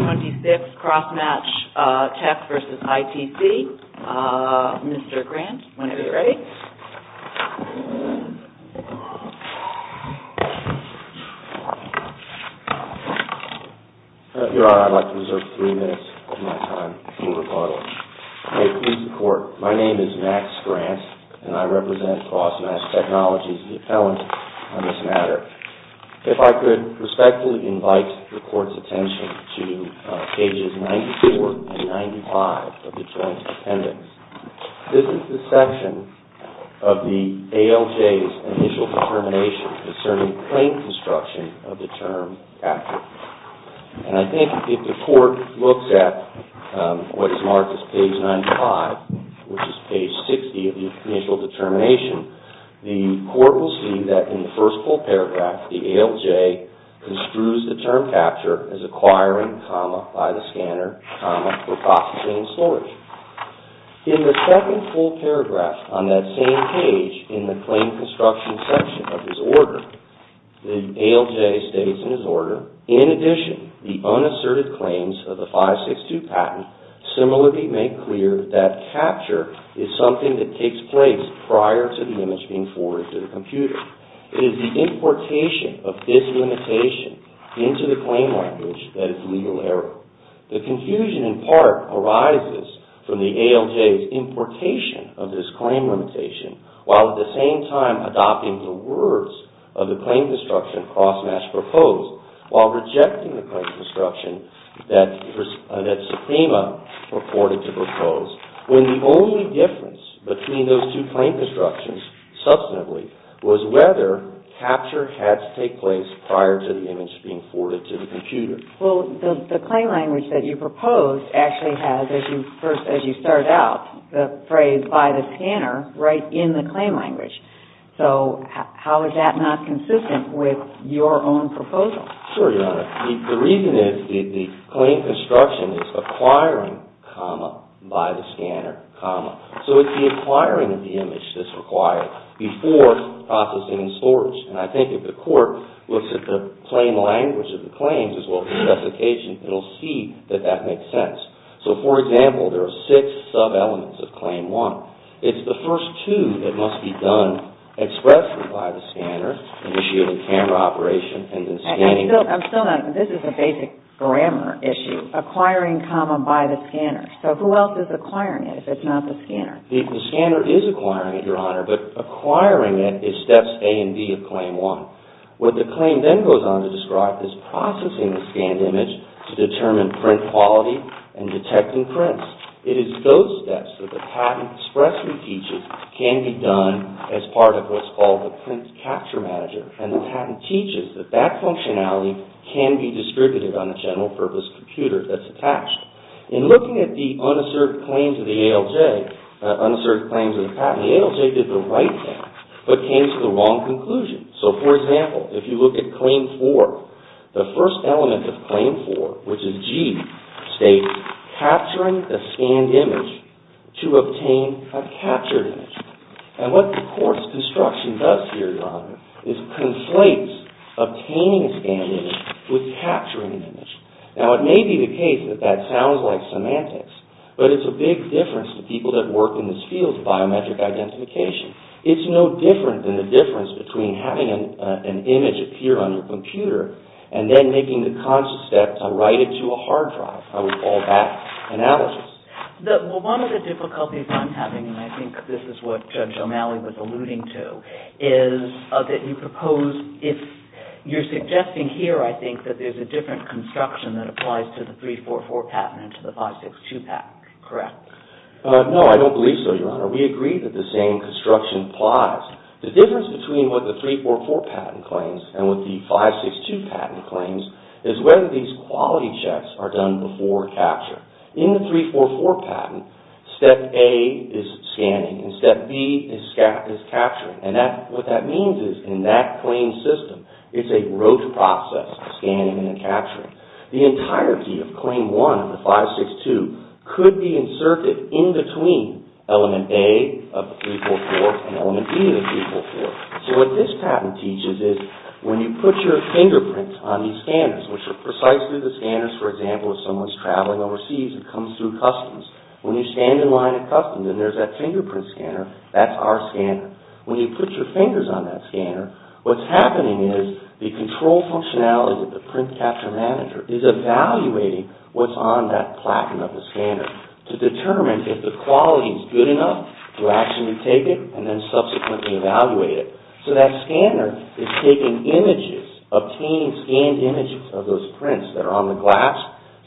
26, CROSS MATCH TECH v. ITC. Mr. Grant, whenever you're ready. Your Honor, I'd like to reserve three minutes of my time for rebuttal. May it please the Court, my name is Max Grant, and I represent CROSS MATCH TECHNOLOGY's If I could respectfully invite the Court's attention to pages 94 and 95 of the Joint Appendix. This is the section of the ALJ's initial determination concerning claim construction of the term active. And I think if the Court looks at what is marked as page 95, which in the first full paragraph, the ALJ construes the term capture as acquiring, by the scanner, for processing and storage. In the second full paragraph on that same page in the claim construction section of his order, the ALJ states in his order, in addition, the unasserted claims of the 562 patent similarly make clear that capture is something that takes place prior to the image being forwarded to the computer. It is the importation of this limitation into the claim language that is legal error. The confusion, in part, arises from the ALJ's importation of this claim limitation, while at the same time adopting the words of the claim construction of CROSS MATCH proposed, while rejecting the claim construction that substantively, was whether capture had to take place prior to the image being forwarded to the computer. Well, the claim language that you proposed actually has, as you start out, the phrase by the scanner right in the claim language. So how is that not consistent with your own proposal? Sure, Your Honor. The reason is the claim construction is acquiring, comma, by the scanner, comma. So it's the acquiring of the image that's required before processing and storage. And I think if the court looks at the claim language of the claims as well as the specification, it'll see that that makes sense. So, for example, there are six sub-elements of Claim 1. It's the first two that must be done expressly by the scanner, initiating camera operation and then scanning. I'm still not, this is a basic grammar issue. Acquiring, comma, by the scanner. So who else is acquiring it if it's not the scanner? The scanner is acquiring it, Your Honor, but acquiring it is steps A and B of Claim 1. What the claim then goes on to describe is processing the scanned image to determine print quality and detecting prints. It is those steps that the patent expressly teaches can be done as part of what's called the print capture manager. And the patent teaches that that functionality can be distributed on a general purpose computer that's attached. In looking at the unasserted claims of the ALJ, unasserted claims of the patent, the ALJ did the right thing but came to the wrong conclusion. So, for example, if you look at Claim 4, the first element of Claim 4, which is G, states capturing the scanned image to obtain a captured image. And what the court's construction does here, Your Honor, is conflates obtaining a scanned image with capturing an image. Now, it may be the case that that sounds like semantics, but it's a big difference to people that work in this field of biometric identification. It's no different than the difference between having an image appear on your computer and then making the conscious step to write it to a hard drive, I would call that analysis. One of the difficulties I'm having, and I think this is what Judge O'Malley was alluding to, is that you propose, you're suggesting here, I think, that there's a different construction that applies to the 344 patent and to the 562 patent, correct? No, I don't believe so, Your Honor. We agree that the same construction applies. The difference between what the 344 patent claims and what the 562 patent claims is whether these quality checks are done before capture. In the 344 patent, Step A is scanning and Step B is capturing and what that means is in that claim system, it's a rote process, scanning and capturing. The entirety of Claim 1 of the 562 could be inserted in between Element A of the 344 and Element B of the 344. So, what this patent teaches is when you put your fingerprint on these scanners, which are precisely the scanners, for example, if someone's traveling overseas and comes through customs, when you stand in line at customs and there's that fingerprint scanner, that's our scanner. When you put your fingers on that scanner, what's happening is the control functionality of the print capture manager is evaluating what's on that platen of the scanner to determine if the quality is good enough to actually take it and then subsequently evaluate it. So, that scanner is taking images, obtaining scanned images of those prints that are on the glass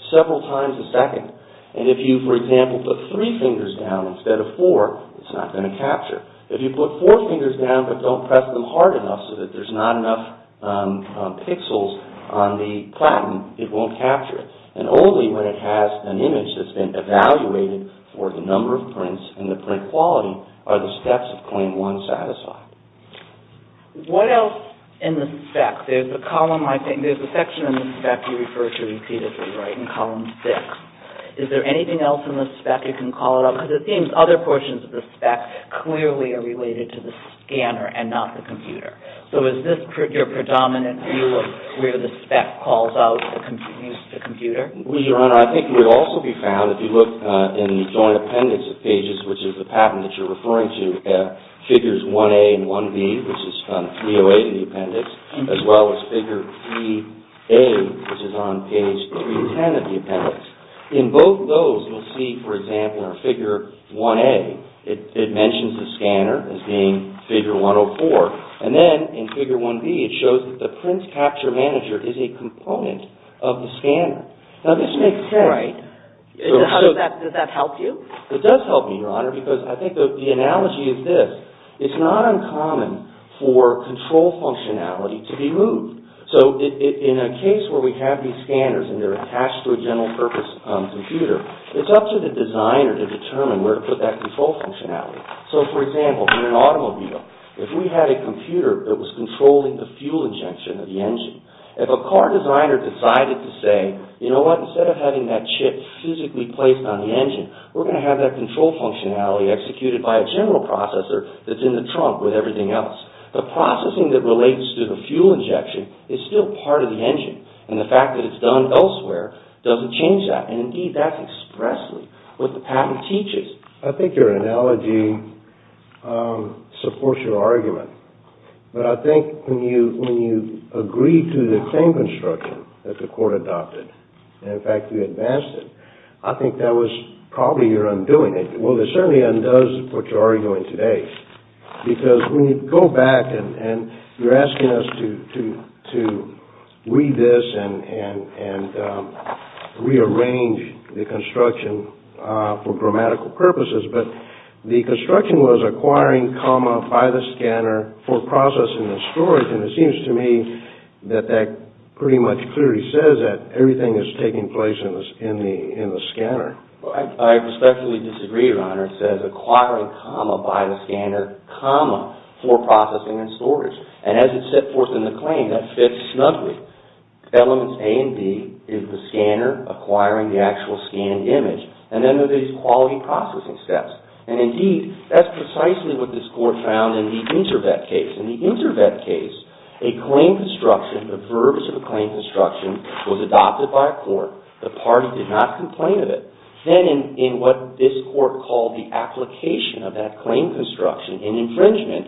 several times a second and if you, for example, put three fingers down instead of four, it's not going to capture. If you put four fingers down but don't press them hard enough so that there's not enough pixels on the platen, it won't capture it and only when it has an image that's been evaluated for the number of prints and the print quality are the steps of Claim 1 satisfied. What else in the spec? There's a column, I think, there's a section in the spec you can call it up because it seems other portions of the spec clearly are related to the scanner and not the computer. So, is this your predominant view of where the spec calls out the computer? Your Honor, I think it would also be found, if you look in the joint appendix of pages, which is the patent that you're referring to, figures 1A and 1B, which is 308 in the appendix, as well as figure 3A, which is on page 310 of the appendix. In both those, you'll see, for example, in figure 1A, it mentions the scanner as being figure 104. And then in figure 1B, it shows that the prints capture manager is a component of the scanner. Now, this makes sense. Right. Does that help you? It does help me, Your Honor, because I think the analogy is this. It's not uncommon for control functionality to be moved. So, in a case where we have these scanners and they're used, it's up to the designer to determine where to put that control functionality. So, for example, in an automobile, if we had a computer that was controlling the fuel injection of the engine, if a car designer decided to say, you know what, instead of having that chip physically placed on the engine, we're going to have that control functionality executed by a general processor that's in the trunk with everything else, the processing that relates to the fuel injection is still part of the engine. And the fact that it's done elsewhere doesn't change that. And, indeed, that's expressly what the patent teaches. I think your analogy supports your argument. But I think when you agree to the claim construction that the court adopted, and, in fact, you advanced it, I think that was probably your undoing. Well, it certainly undoes what you're arguing today. Because when you go back and you're asking us to read this and rearrange the construction for grammatical purposes, but the construction was acquiring, comma, by the scanner, for processing and storage. And it seems to me that that pretty much clearly says that everything is taking place in the scanner. I respectfully disagree, Your Honor. It says acquiring, comma, by the scanner, comma, for processing and storage. And as it's set forth in the claim, that fits snugly. Elements A and B is the scanner acquiring the actual scanned image. And then there are these quality processing steps. And, indeed, that's precisely what this court found in the inter-vet case. In the inter-vet case, a claim construction, the verbiage of a claim construction was adopted by a court. The party did not complain of it. Then, in what this In infringement,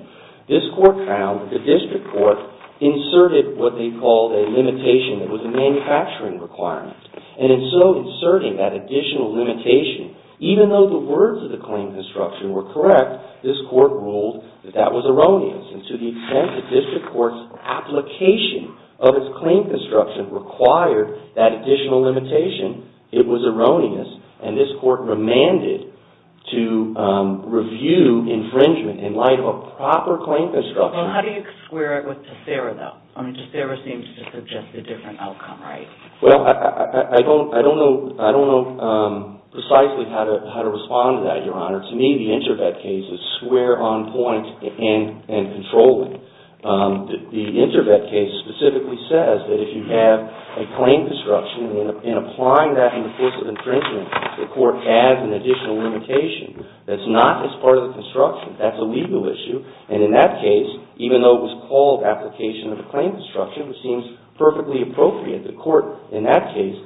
this court found that the district court inserted what they called a limitation that was a manufacturing requirement. And in so inserting that additional limitation, even though the words of the claim construction were correct, this court ruled that that was erroneous. And to the extent that district court's application of its claim construction required that additional limitation, it was erroneous. And this court remanded to review infringement in light of a proper claim construction. Well, how do you square it with Tassara, though? I mean, Tassara seems to suggest a different outcome, right? Well, I don't know precisely how to respond to that, Your Honor. To me, the inter-vet case is square on point in controlling. The inter-vet case specifically says that if you have a claim construction, in applying that in the course of infringement, the court adds an additional limitation that's not as part of the construction. That's a legal issue. And in that case, even though it was called application of a claim construction, which seems perfectly appropriate, the court in that case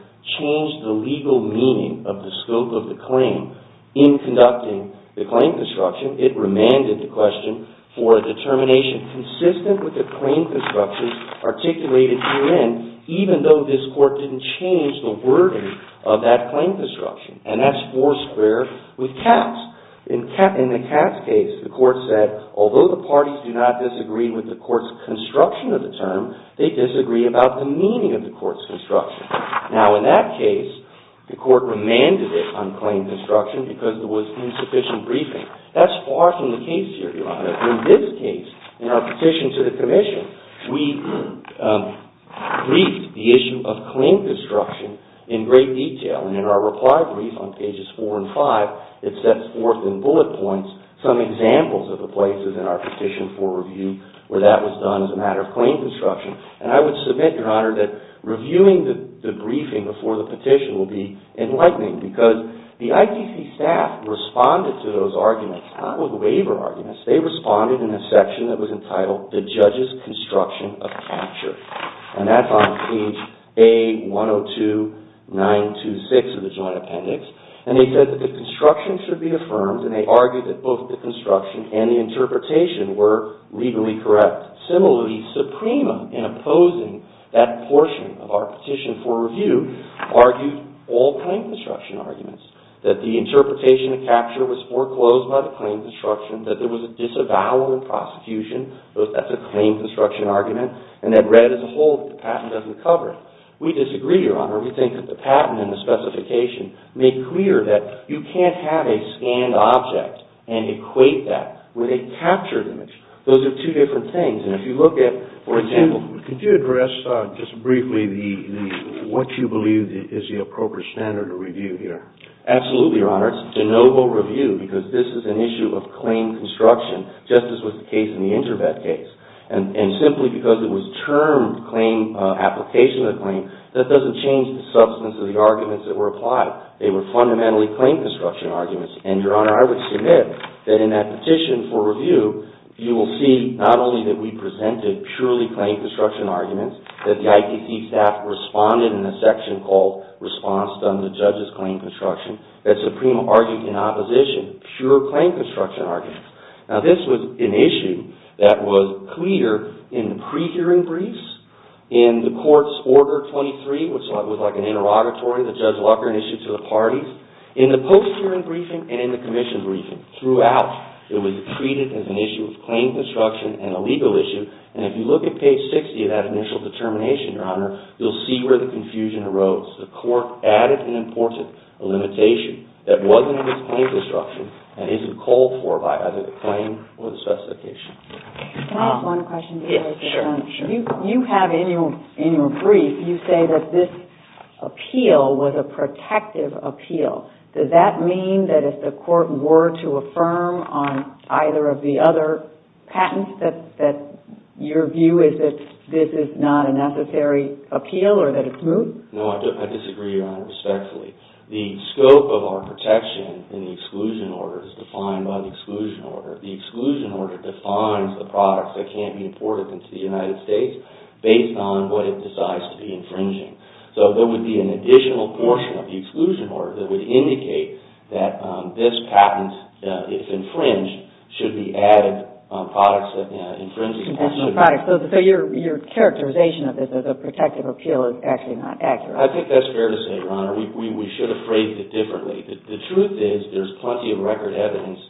changed the legal meaning of the scope of the claim. In conducting the claim construction, it remanded the question for a determination consistent with the claim construction articulated herein, even though this court didn't change the wording of that claim construction. And that's four square with Katz. In the Katz case, the court said, although the parties do not disagree with the court's construction of the term, they disagree about the meaning of the court's construction. Now, in that case, the court remanded it on claim construction because there was insufficient briefing. That's far from the case here, Your Honor. In this case, in our petition to the Court of Appeals, it sets forth the meaning of claim construction in great detail. And in our reply brief on pages four and five, it sets forth in bullet points some examples of the places in our petition for review where that was done as a matter of claim construction. And I would submit, Your Honor, that reviewing the briefing before the petition will be enlightening because the ITC staff responded to those arguments, not with waiver arguments. They responded in a section that was entitled, The Judge's Construction of Capture. And that's on page A-102-926 of the Joint Appendix. And they said that the construction should be affirmed and they argued that both the construction and the interpretation were legally correct. Similarly, Supremum, in opposing that portion of our petition for review, argued all claim construction arguments, that the interpretation of capture was foreclosed by the claim construction, that there was a disavowal in prosecution. That's a claim construction argument. And that read as a whole, the patent doesn't cover it. We disagree, Your Honor. We think that the patent and the specification make clear that you can't have a scanned object and equate that with a captured image. Those are two different things. And if you look at, for example... Could you address just briefly what you believe is the appropriate standard of review here? Absolutely, Your Honor. It's de novo review, because this is an issue of claim construction, just as was the case in the InterVet case. And simply because it was termed claim application of the claim, that doesn't change the substance of the arguments that were applied. They were fundamentally claim construction arguments. And Your Honor, I would submit that in that petition for review, you will see not only that we presented purely claim construction arguments, that the IPC staff responded in a section called, Response done to the Judge's claim construction, that Supreme argued in opposition, pure claim construction arguments. Now this was an issue that was clear in the pre-hearing briefs, in the Court's Order 23, which was like an interrogatory that Judge Lucker had issued to the parties, in the post-hearing briefing, and in the commission briefing. Throughout, it was treated as an issue of claim construction and a legal issue. And if you look at page 60 of that initial determination, Your Honor, you'll see where the confusion arose. The Court added and imported a limitation that wasn't a claim construction, and isn't called for by either the claim or the specification. Can I ask one question? You have in your brief, you say that this appeal was a protective appeal. Does that mean that if the Court were to affirm on either of the other patents, that your view is that this is not a necessary appeal, or that it's moot? No, I disagree, Your Honor, respectfully. The scope of our protection in the exclusion order is defined by the exclusion order. The exclusion order defines the products that can't be imported into the United States, based on what it decides to be infringing. So there would be an additional portion of the exclusion order that would indicate that this patent, if infringed, should be added on products that infringe the exclusion order. So your characterization of this as a protective appeal is actually not accurate. I think that's fair to say, Your Honor. We should have phrased it differently. The truth is, there's plenty of record evidence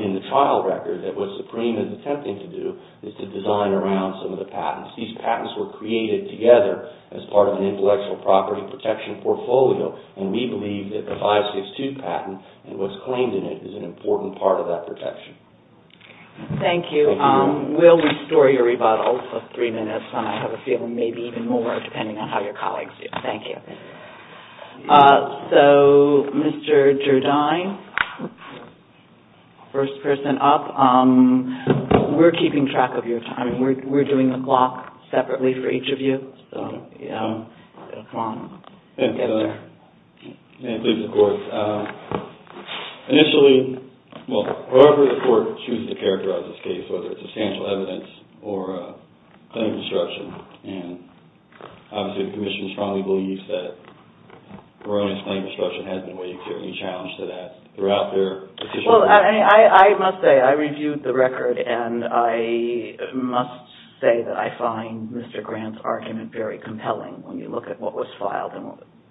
in the trial record that what Supreme is attempting to do is to design around some of the patents. These patents were created together as part of an intellectual property protection portfolio, and we believe that the 562 patent and what's claimed in it is an important part of that protection. Thank you. We'll restore your rebuttal for three minutes, and I have a feeling maybe even more, depending on how your colleagues do. Thank you. So, Mr. Gerdine, first person up, we're keeping track of your time. We're doing the block separately for each of you, so, you know, come on, get there. And please, of course, initially, well, however the court chooses to characterize this case, whether it's substantial evidence or a claim of obstruction, and obviously the Commission strongly believes that Veronica's claim of obstruction has been waived. Is there any challenge to that throughout their decision? Well, I must say, I reviewed the record, and I must say that I find Mr. Grant's argument very compelling when you look at what was filed,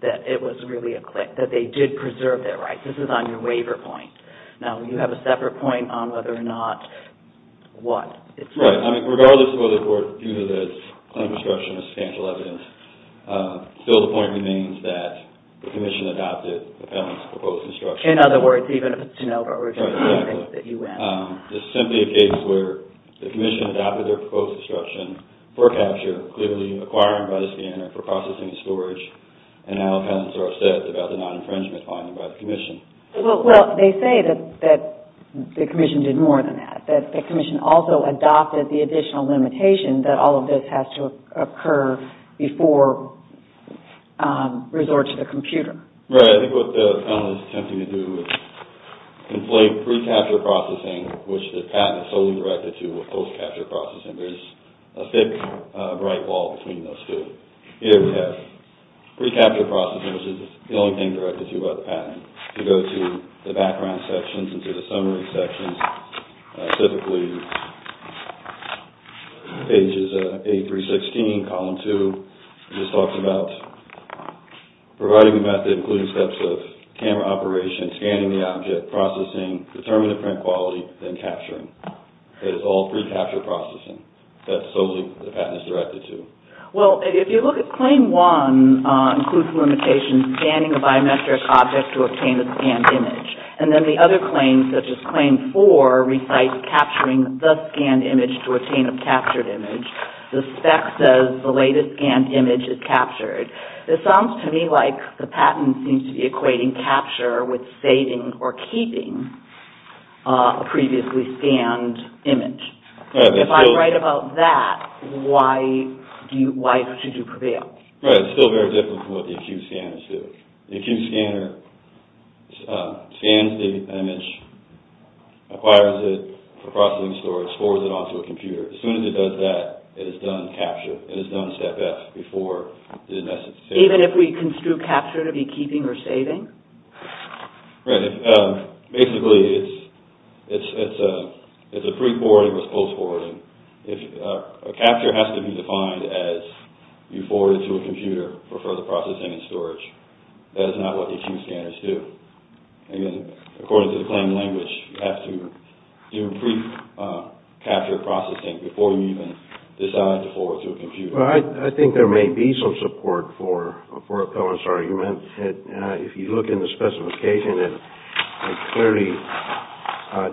that it was really a claim, that they did preserve their rights. This is on your waiver point. Now, you have a separate point on whether or not what it's worth. Right. I mean, regardless of whether the court chooses a claim of obstruction or substantial evidence, still the point remains that the Commission adopted the patent's proposed instruction. In other words, even if it's de novo, we're just assuming that you win. Right, exactly. This is simply a case where the Commission adopted their proposed instruction for capture, clearly acquiring by the scanner for processing and storage, and now appellants are upset about the non-infringement finding by the Commission. Well, they say that the Commission did more than that, that the Commission also adopted the additional limitation that all of this has to occur before resort to the computer. Right. I think what the appellant is attempting to do is inflate pre-capture processing, which the patent is solely directed to, with post-capture processing. There's a thick, bright wall between those two. Here we have pre-capture processing, which is the only thing directed to by the patent. If you go to the background sections and to the summary sections, typically pages A316, column 2, it just talks about providing a method including steps of camera operation, scanning the object, processing, determining the print quality, then capturing. It's all pre-capture processing. That's solely what the patent is directed to. Well, if you look at claim 1, it includes a limitation scanning a biometric object to obtain a scanned image, and then the other claims, such as claim 4, recites capturing the scanned image to obtain a captured image. The spec says the latest scanned image is captured. It sounds to me like the patent seems to be equating capture with saving or keeping a previously scanned image. If I'm right about that, why should you prevail? Right. It's still very difficult with the acute scanner, too. The acute scanner scans the image, acquires it for processing and storage, forwards it onto a computer. As soon as it does that, it is done capture. It is done step F before it is in essence saved. Even if we construe capture to be keeping or saving? Right. Basically, it's a pre-forwarding versus post-forwarding. A capture has to be defined as you forward it to a computer for further processing and storage. That is not what the acute scanners do. According to the claim language, you have to do pre-capture processing before you even decide to forward it to a computer. Well, I think there may be some support for Cohen's argument. If you look in the specification, it clearly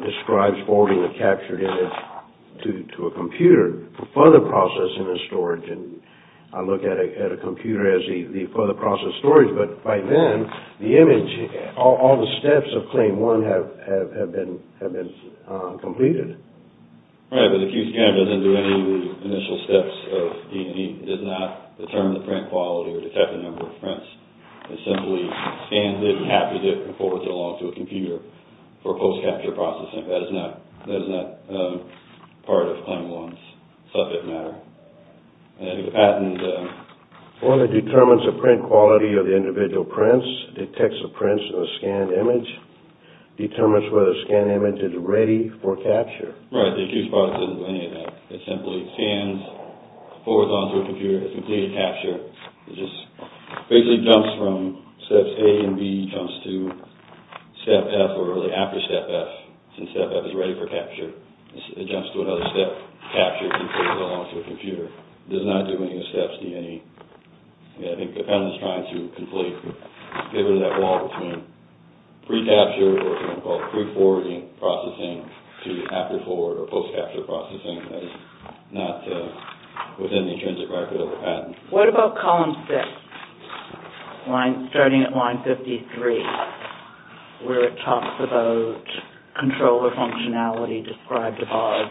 describes forwarding the captured image to a computer for further processing and storage. I look at a computer as the further process storage, but by then, the image, all the steps of Claim 1 have been completed. Right, but the acute scanner doesn't do any of the initial steps of DNA. It does not determine the print quality or detect the number of prints. It simply scans it and captures it and forwards it along to a computer for post-capture processing. That is not part of Claim 1's subject matter. Well, it determines the print quality of the individual prints, detects the prints of a scanned image, determines whether the scanned image is ready for capture. Right, the acute scanner doesn't do any of that. It simply scans, forwards it along to a computer, and completes a capture. It just basically jumps from steps A and B, jumps to step F or early after step F, and step F is ready for capture. It jumps to another step, captures, and forwards it along to a computer. It does not do any of the steps of DNA. I think the defendant's trying to completely pivot that wall between pre-capture or what's called pre-forwarding processing to after-forward or post-capture processing. That is not within the intrinsic record of the patent. What about column 6, starting at line 53, where it talks about controller functionality described above,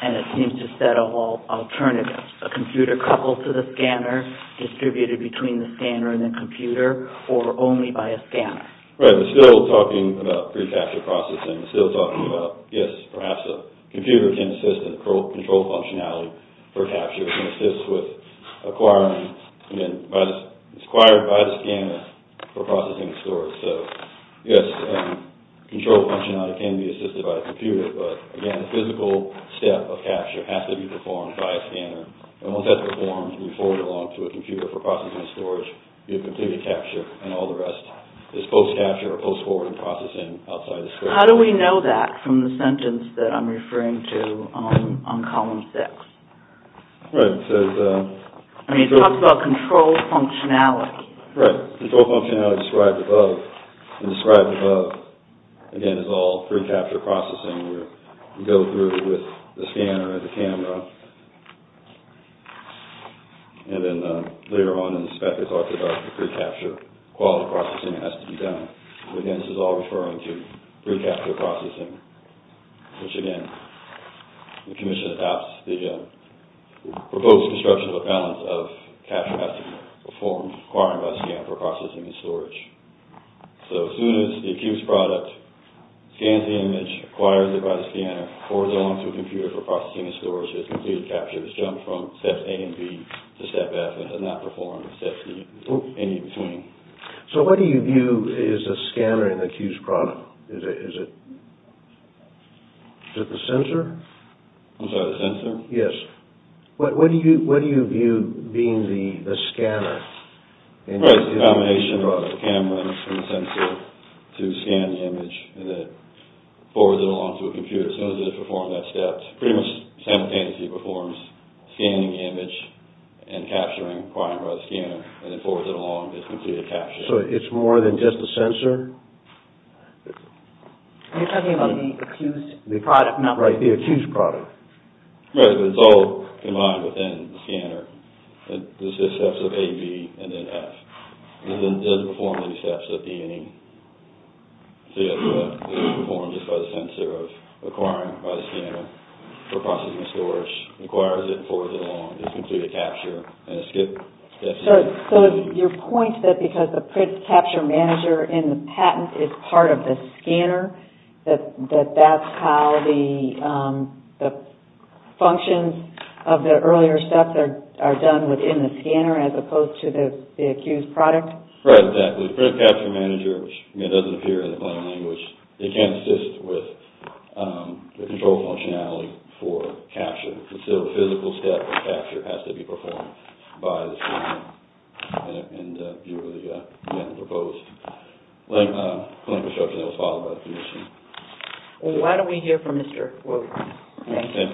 and it seems to set a whole alternative, a computer coupled to the scanner, distributed between the scanner and the computer, or only by a scanner? Right, we're still talking about pre-capture processing. We're still talking about, yes, perhaps a computer can assist in control functionality for capture. It can assist with acquiring, again, it's acquired by the scanner for processing the source. So, yes, control functionality can be assisted by a computer, but, again, the physical step of capture has to be performed by a scanner, and once that's performed, we forward it along to a computer for processing storage, you have completed capture, and all the rest is post-capture or post-forwarding processing outside the scanner. How do we know that from the sentence that I'm referring to on column 6? Right, it says... I mean, it talks about control functionality. Right, control functionality described above, and described above, again, is all pre-capture processing, where you go through with the scanner and the camera, and then later on in the spec, it's archived, the pre-capture quality processing has to be done. Again, this is all referring to pre-capture processing, which, again, the commission adopts the proposed construction of a balance of capture has to be performed, acquired by a scanner for processing and storage. So, as soon as the accused product scans the image, acquires it by the scanner, forwards it along to a computer for processing and storage, it has completed capture, it's jumped from steps A and B to step F, and does not perform steps D and E between. So, what do you view as the scanner in the accused product? Is it the sensor? I'm sorry, the sensor? Yes. What do you view being the scanner? Right, it's the combination of the camera and the sensor to scan the image, and then forwards it along to a computer. As soon as it performs that step, pretty much simultaneously performs scanning the image and capturing, acquired by the scanner, and then forwards it along, it's completed capture. So, it's more than just the sensor? Are you talking about the accused product? Right, the accused product. Right, but it's all combined within the scanner. There's just steps of A, B, and then F. It doesn't perform any steps of D and E. So, it's performed just by the sensor, acquired by the scanner for processing and storage, acquires it, forwards it along, it's completed capture, and it's skipped steps. So, your point that because the print capture manager in the patent is part of the scanner, that that's how the functions of the earlier steps are done within the scanner, as opposed to the accused product? Right, exactly. The print capture manager, which doesn't appear in the plain language, it can't assist with the control functionality for capture. So, the physical step of capture has to be performed by the scanner in view of the proposed clinical structure that was Why don't we hear from Mr. Wu? Thank you.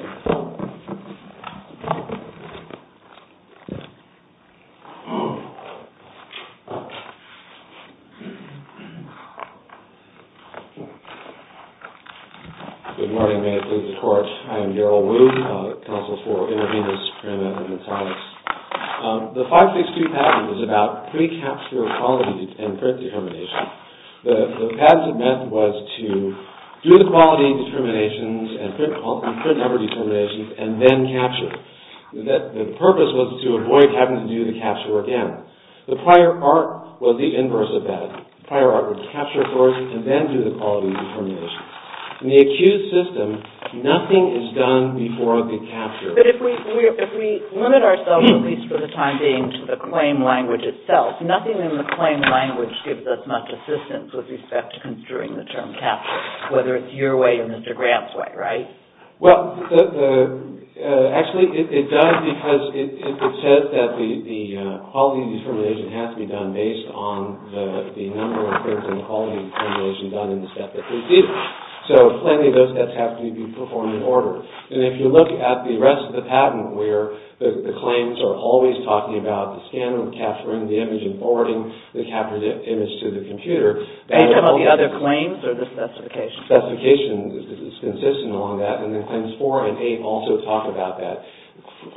Good morning, may it please the Court. I am Darrell Wu, counsel for Intervenus, Prima, and Natalix. The 562 patent is about pre-capture quality and print determination. The patent meant was to do the quality determinations and print number determinations, and then capture. The purpose was to avoid having to do the capture again. The prior art was the inverse of that. The prior art was capture first, and then do the quality determinations. In the accused system, nothing is done before the capture. But if we limit ourselves, at least for the time being, to the claim language itself, nothing in the claim language gives us much assistance with respect to construing the term capture, whether it's your way or Mr. Grant's way, right? Well, actually, it does because it says that the quality determination has to be done based on the number of prints and the quality determination done in the step that precedes it. So, plenty of those steps have to be performed in order. And if you look at the rest of the patent where the claims are always talking about the scan and capturing the image and forwarding the captured image to the computer... Based on the other claims or the specifications? Specifications. It's consistent on that. And then claims four and eight also talk about that.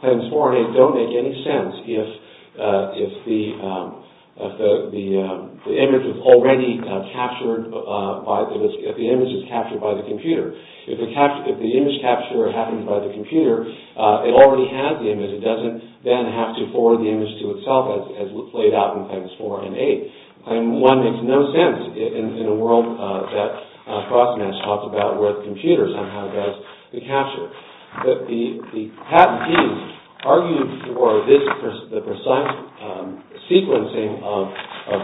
Claims four and eight don't make any sense if the image is already captured by the computer. If the image capture happens by the computer, it already has the image. It doesn't then have to forward the image to itself as laid out in claims four and eight. And one makes no sense in a world that CrossMatch talks about where the computer somehow does the capture. But the patent teams argued for this precise sequencing of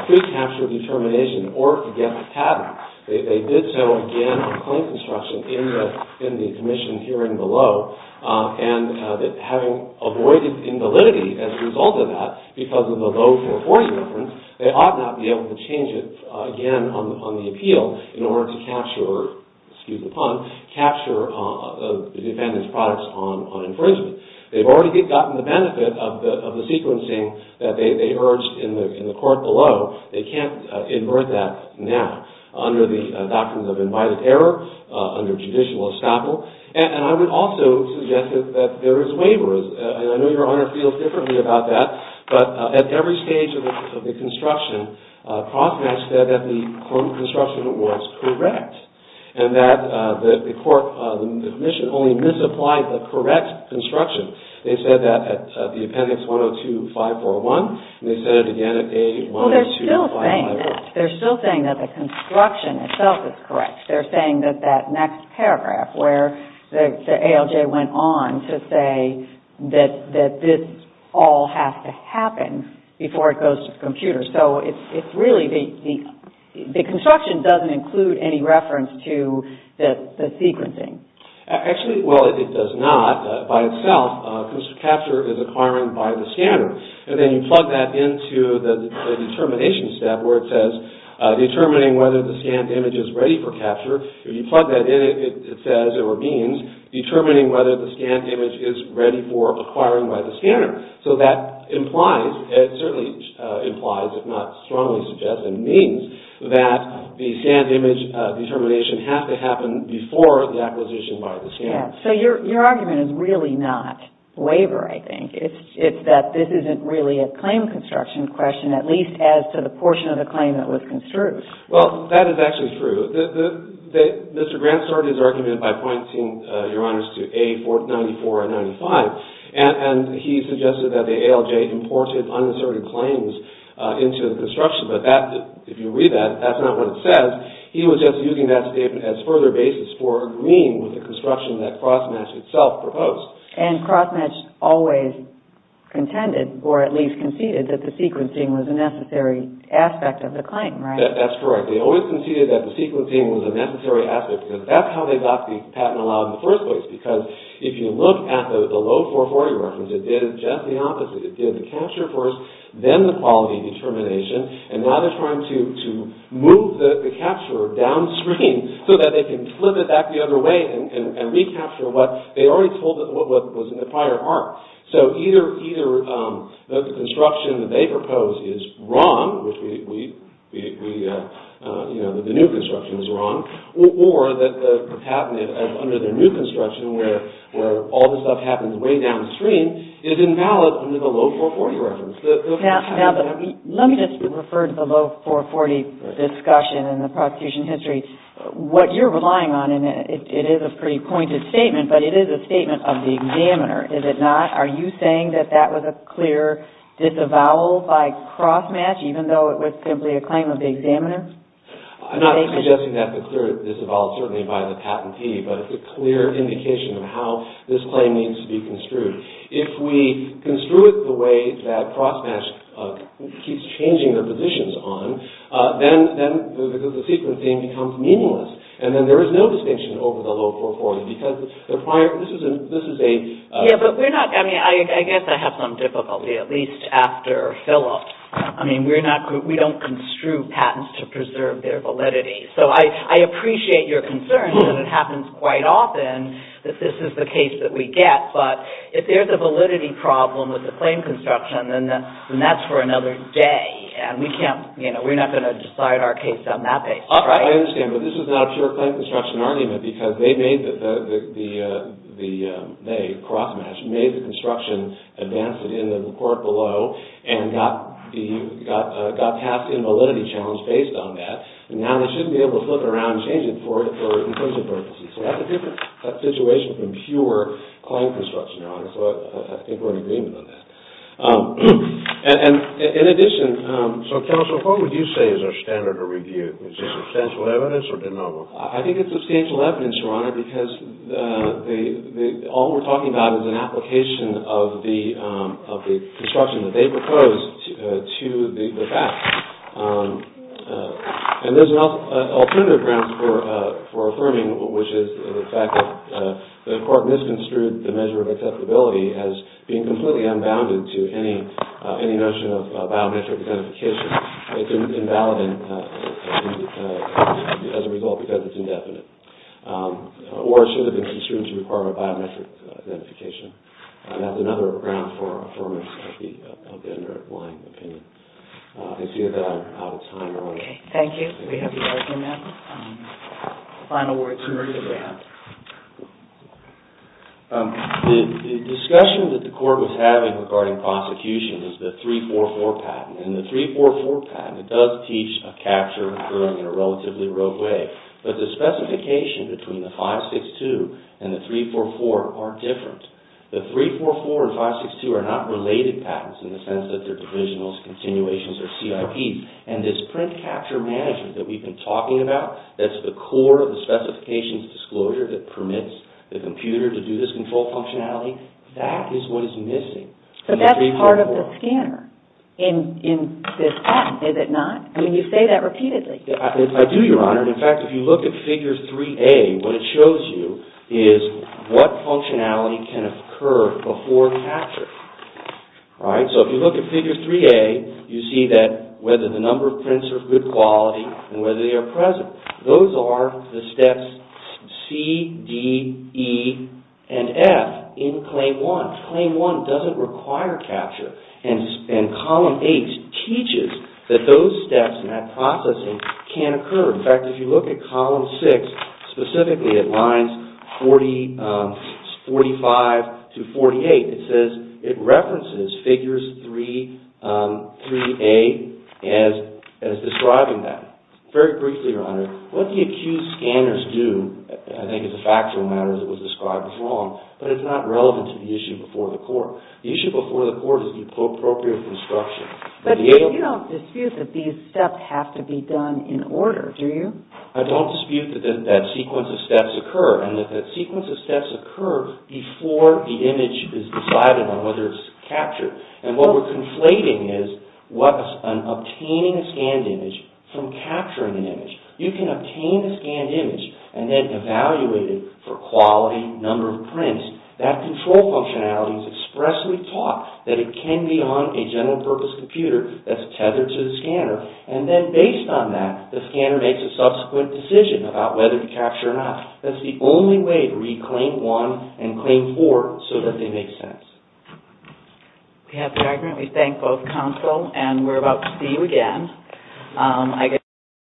pre-capture determination in order to get the patent. They did so again on claim construction in the commission hearing below. And having avoided invalidity as a result of that because of the low 440 difference, they ought not be able to change it again on the appeal in order to capture, excuse the pun, capture the defendant's products on infringement. They've already gotten the benefit of the sequencing that they urged in the court below. They can't invert that now under the doctrines of invited error, under judicial estoppel. And I would also suggest that there is waivers. And I know Your Honor feels differently about that. But at every stage of the construction, CrossMatch said that the form of construction was correct and that the commission only misapplied the correct construction. They said that at the appendix 102-541. And they said it again at A-102-541. Well, they're still saying that. They're still saying that the construction itself is correct. They're saying that that next paragraph where the ALJ went on to say that this all has to happen before it goes to the computer. So it's really the construction doesn't include any reference to the sequencing. Actually, well, it does not by itself because capture is acquiring by the scanner. And then you plug that into the determination step where it says determining whether the scanned image is ready for capture. If you plug that in, it says or means determining whether the scanned image is ready for acquiring by the scanner. So that implies, it certainly implies if not strongly suggests and means that the scanned image determination has to happen before the acquisition by the scanner. Yes. So your argument is really not waiver, I think. It's that this isn't really a claim construction question, at least as to the portion of the claim that was construed. Well, that is actually true. Mr. Grant started his argument by pointing, Your Honors, to A-94 and 95. And he suggested that the ALJ imported uninserted claims into the construction. But if you read that, that's not what it says. He was just using that statement as further basis for agreeing with the construction that CrossMatch itself proposed. And CrossMatch always contended or at least conceded that the sequencing was a necessary aspect of the claim, right? That's correct. They always conceded that the sequencing was a necessary aspect because that's how they got the patent allowed in the first place. Because if you look at the low 440 reference, it did just the opposite. It did the capture first, then the quality determination. And now they're trying to move the capture downstream so that they can flip it back the other way and recapture what they already told us what was in the prior part. So either the construction that they proposed is wrong, which the new construction is wrong, or that the cabinet under the new construction where all this stuff happens way downstream is invalid under the low 440 reference. Now, let me just refer to the low 440 discussion in the prosecution history. What you're relying on, and it is a pretty pointed statement, but it is a statement of the examiner, is it not? Are you saying that that was a clear disavowal by CrossMatch even though it was simply a claim of the examiner? I'm not suggesting that it was a clear disavowal certainly by the patentee, but it's a clear indication of how this claim needs to be construed. If we construe it the way that CrossMatch keeps changing their positions on, then the sequencing becomes meaningless. And then there is no distinction over the low 440 because the prior, this is a... Yeah, but we're not, I mean, I guess I have some difficulty, at least after Philip. I mean, we don't construe patents to preserve their validity. So I appreciate your concern that it happens quite often that this is the case that we get, but if there's a validity problem with the claim construction, then that's for another day. And we can't, you know, we're not going to decide our case on that basis, right? I understand, but this is not a pure claim construction argument because they made the, CrossMatch made the construction advance it in the court below and got passed in validity challenge based on that, and now they shouldn't be able to flip it around and change it for inclusive purposes. So that's a different situation from pure claim construction, Your Honor, so I think we're in agreement on that. And in addition... So, Counsel, what would you say is our standard of review? Is it substantial evidence or de novo? I think it's substantial evidence, Your Honor, because all we're talking about is an application of the construction that they proposed to the facts. And there's alternative grounds for affirming, which is the fact that the court misconstrued the measure of acceptability as being completely unbounded to any notion of biometric identification. It's invalid as a result because it's The discussion that the court was having regarding prosecution is the 344 patent, and the 344 patent, it does teach a capture curve in a relatively rough way, but the specification between the 562 and the 344 are different. The 344 patent teaches a capture curve in not related patents in the sense that they're divisionals, continuations, or CIPs. And this print capture management that we've been talking about, that's the core of the specifications disclosure that permits the computer to do this control functionality, that is what is missing from the 344. But that's part of the scanner in this patent, is it not? I mean, you say that repeatedly. I do, Your Honor. In fact, if you look at figures 3A, what it shows you is what functionality can occur before capture. So if you look at figure 3A, you see that whether the number of prints are of good quality and whether they are present. Those are the steps C, D, E, and F in Claim 1. Claim 1 doesn't require capture, and Column 8 teaches that those steps and that processing can occur. In fact, if you look at Column 6, specifically at lines 45 to 48, it says it references figures 3A as describing that. Very briefly, Your Honor, what the accused scanners do, I think it's a factual matter that was described as wrong, but it's not relevant to the issue before the court. The issue before the court is the appropriate construction. But you don't dispute that these steps have to be done in order, do you? I don't dispute that that sequence of steps occur, and that that sequence of steps occur before the image is decided on whether it's captured. And what we're conflating is what is an obtaining a scanned image from capturing an image. You can obtain a scanned image and then evaluate it for quality, number of prints. That control functionality is expressly taught that it can be on a general-purpose computer that's tethered to the scanner, and then based on that, the scanner makes a subsequent decision about whether to capture or not. That's the only way to read Claim 1 and Claim 4 so that they make sense. We have the argument. We thank both counsel, and we're about to see you again.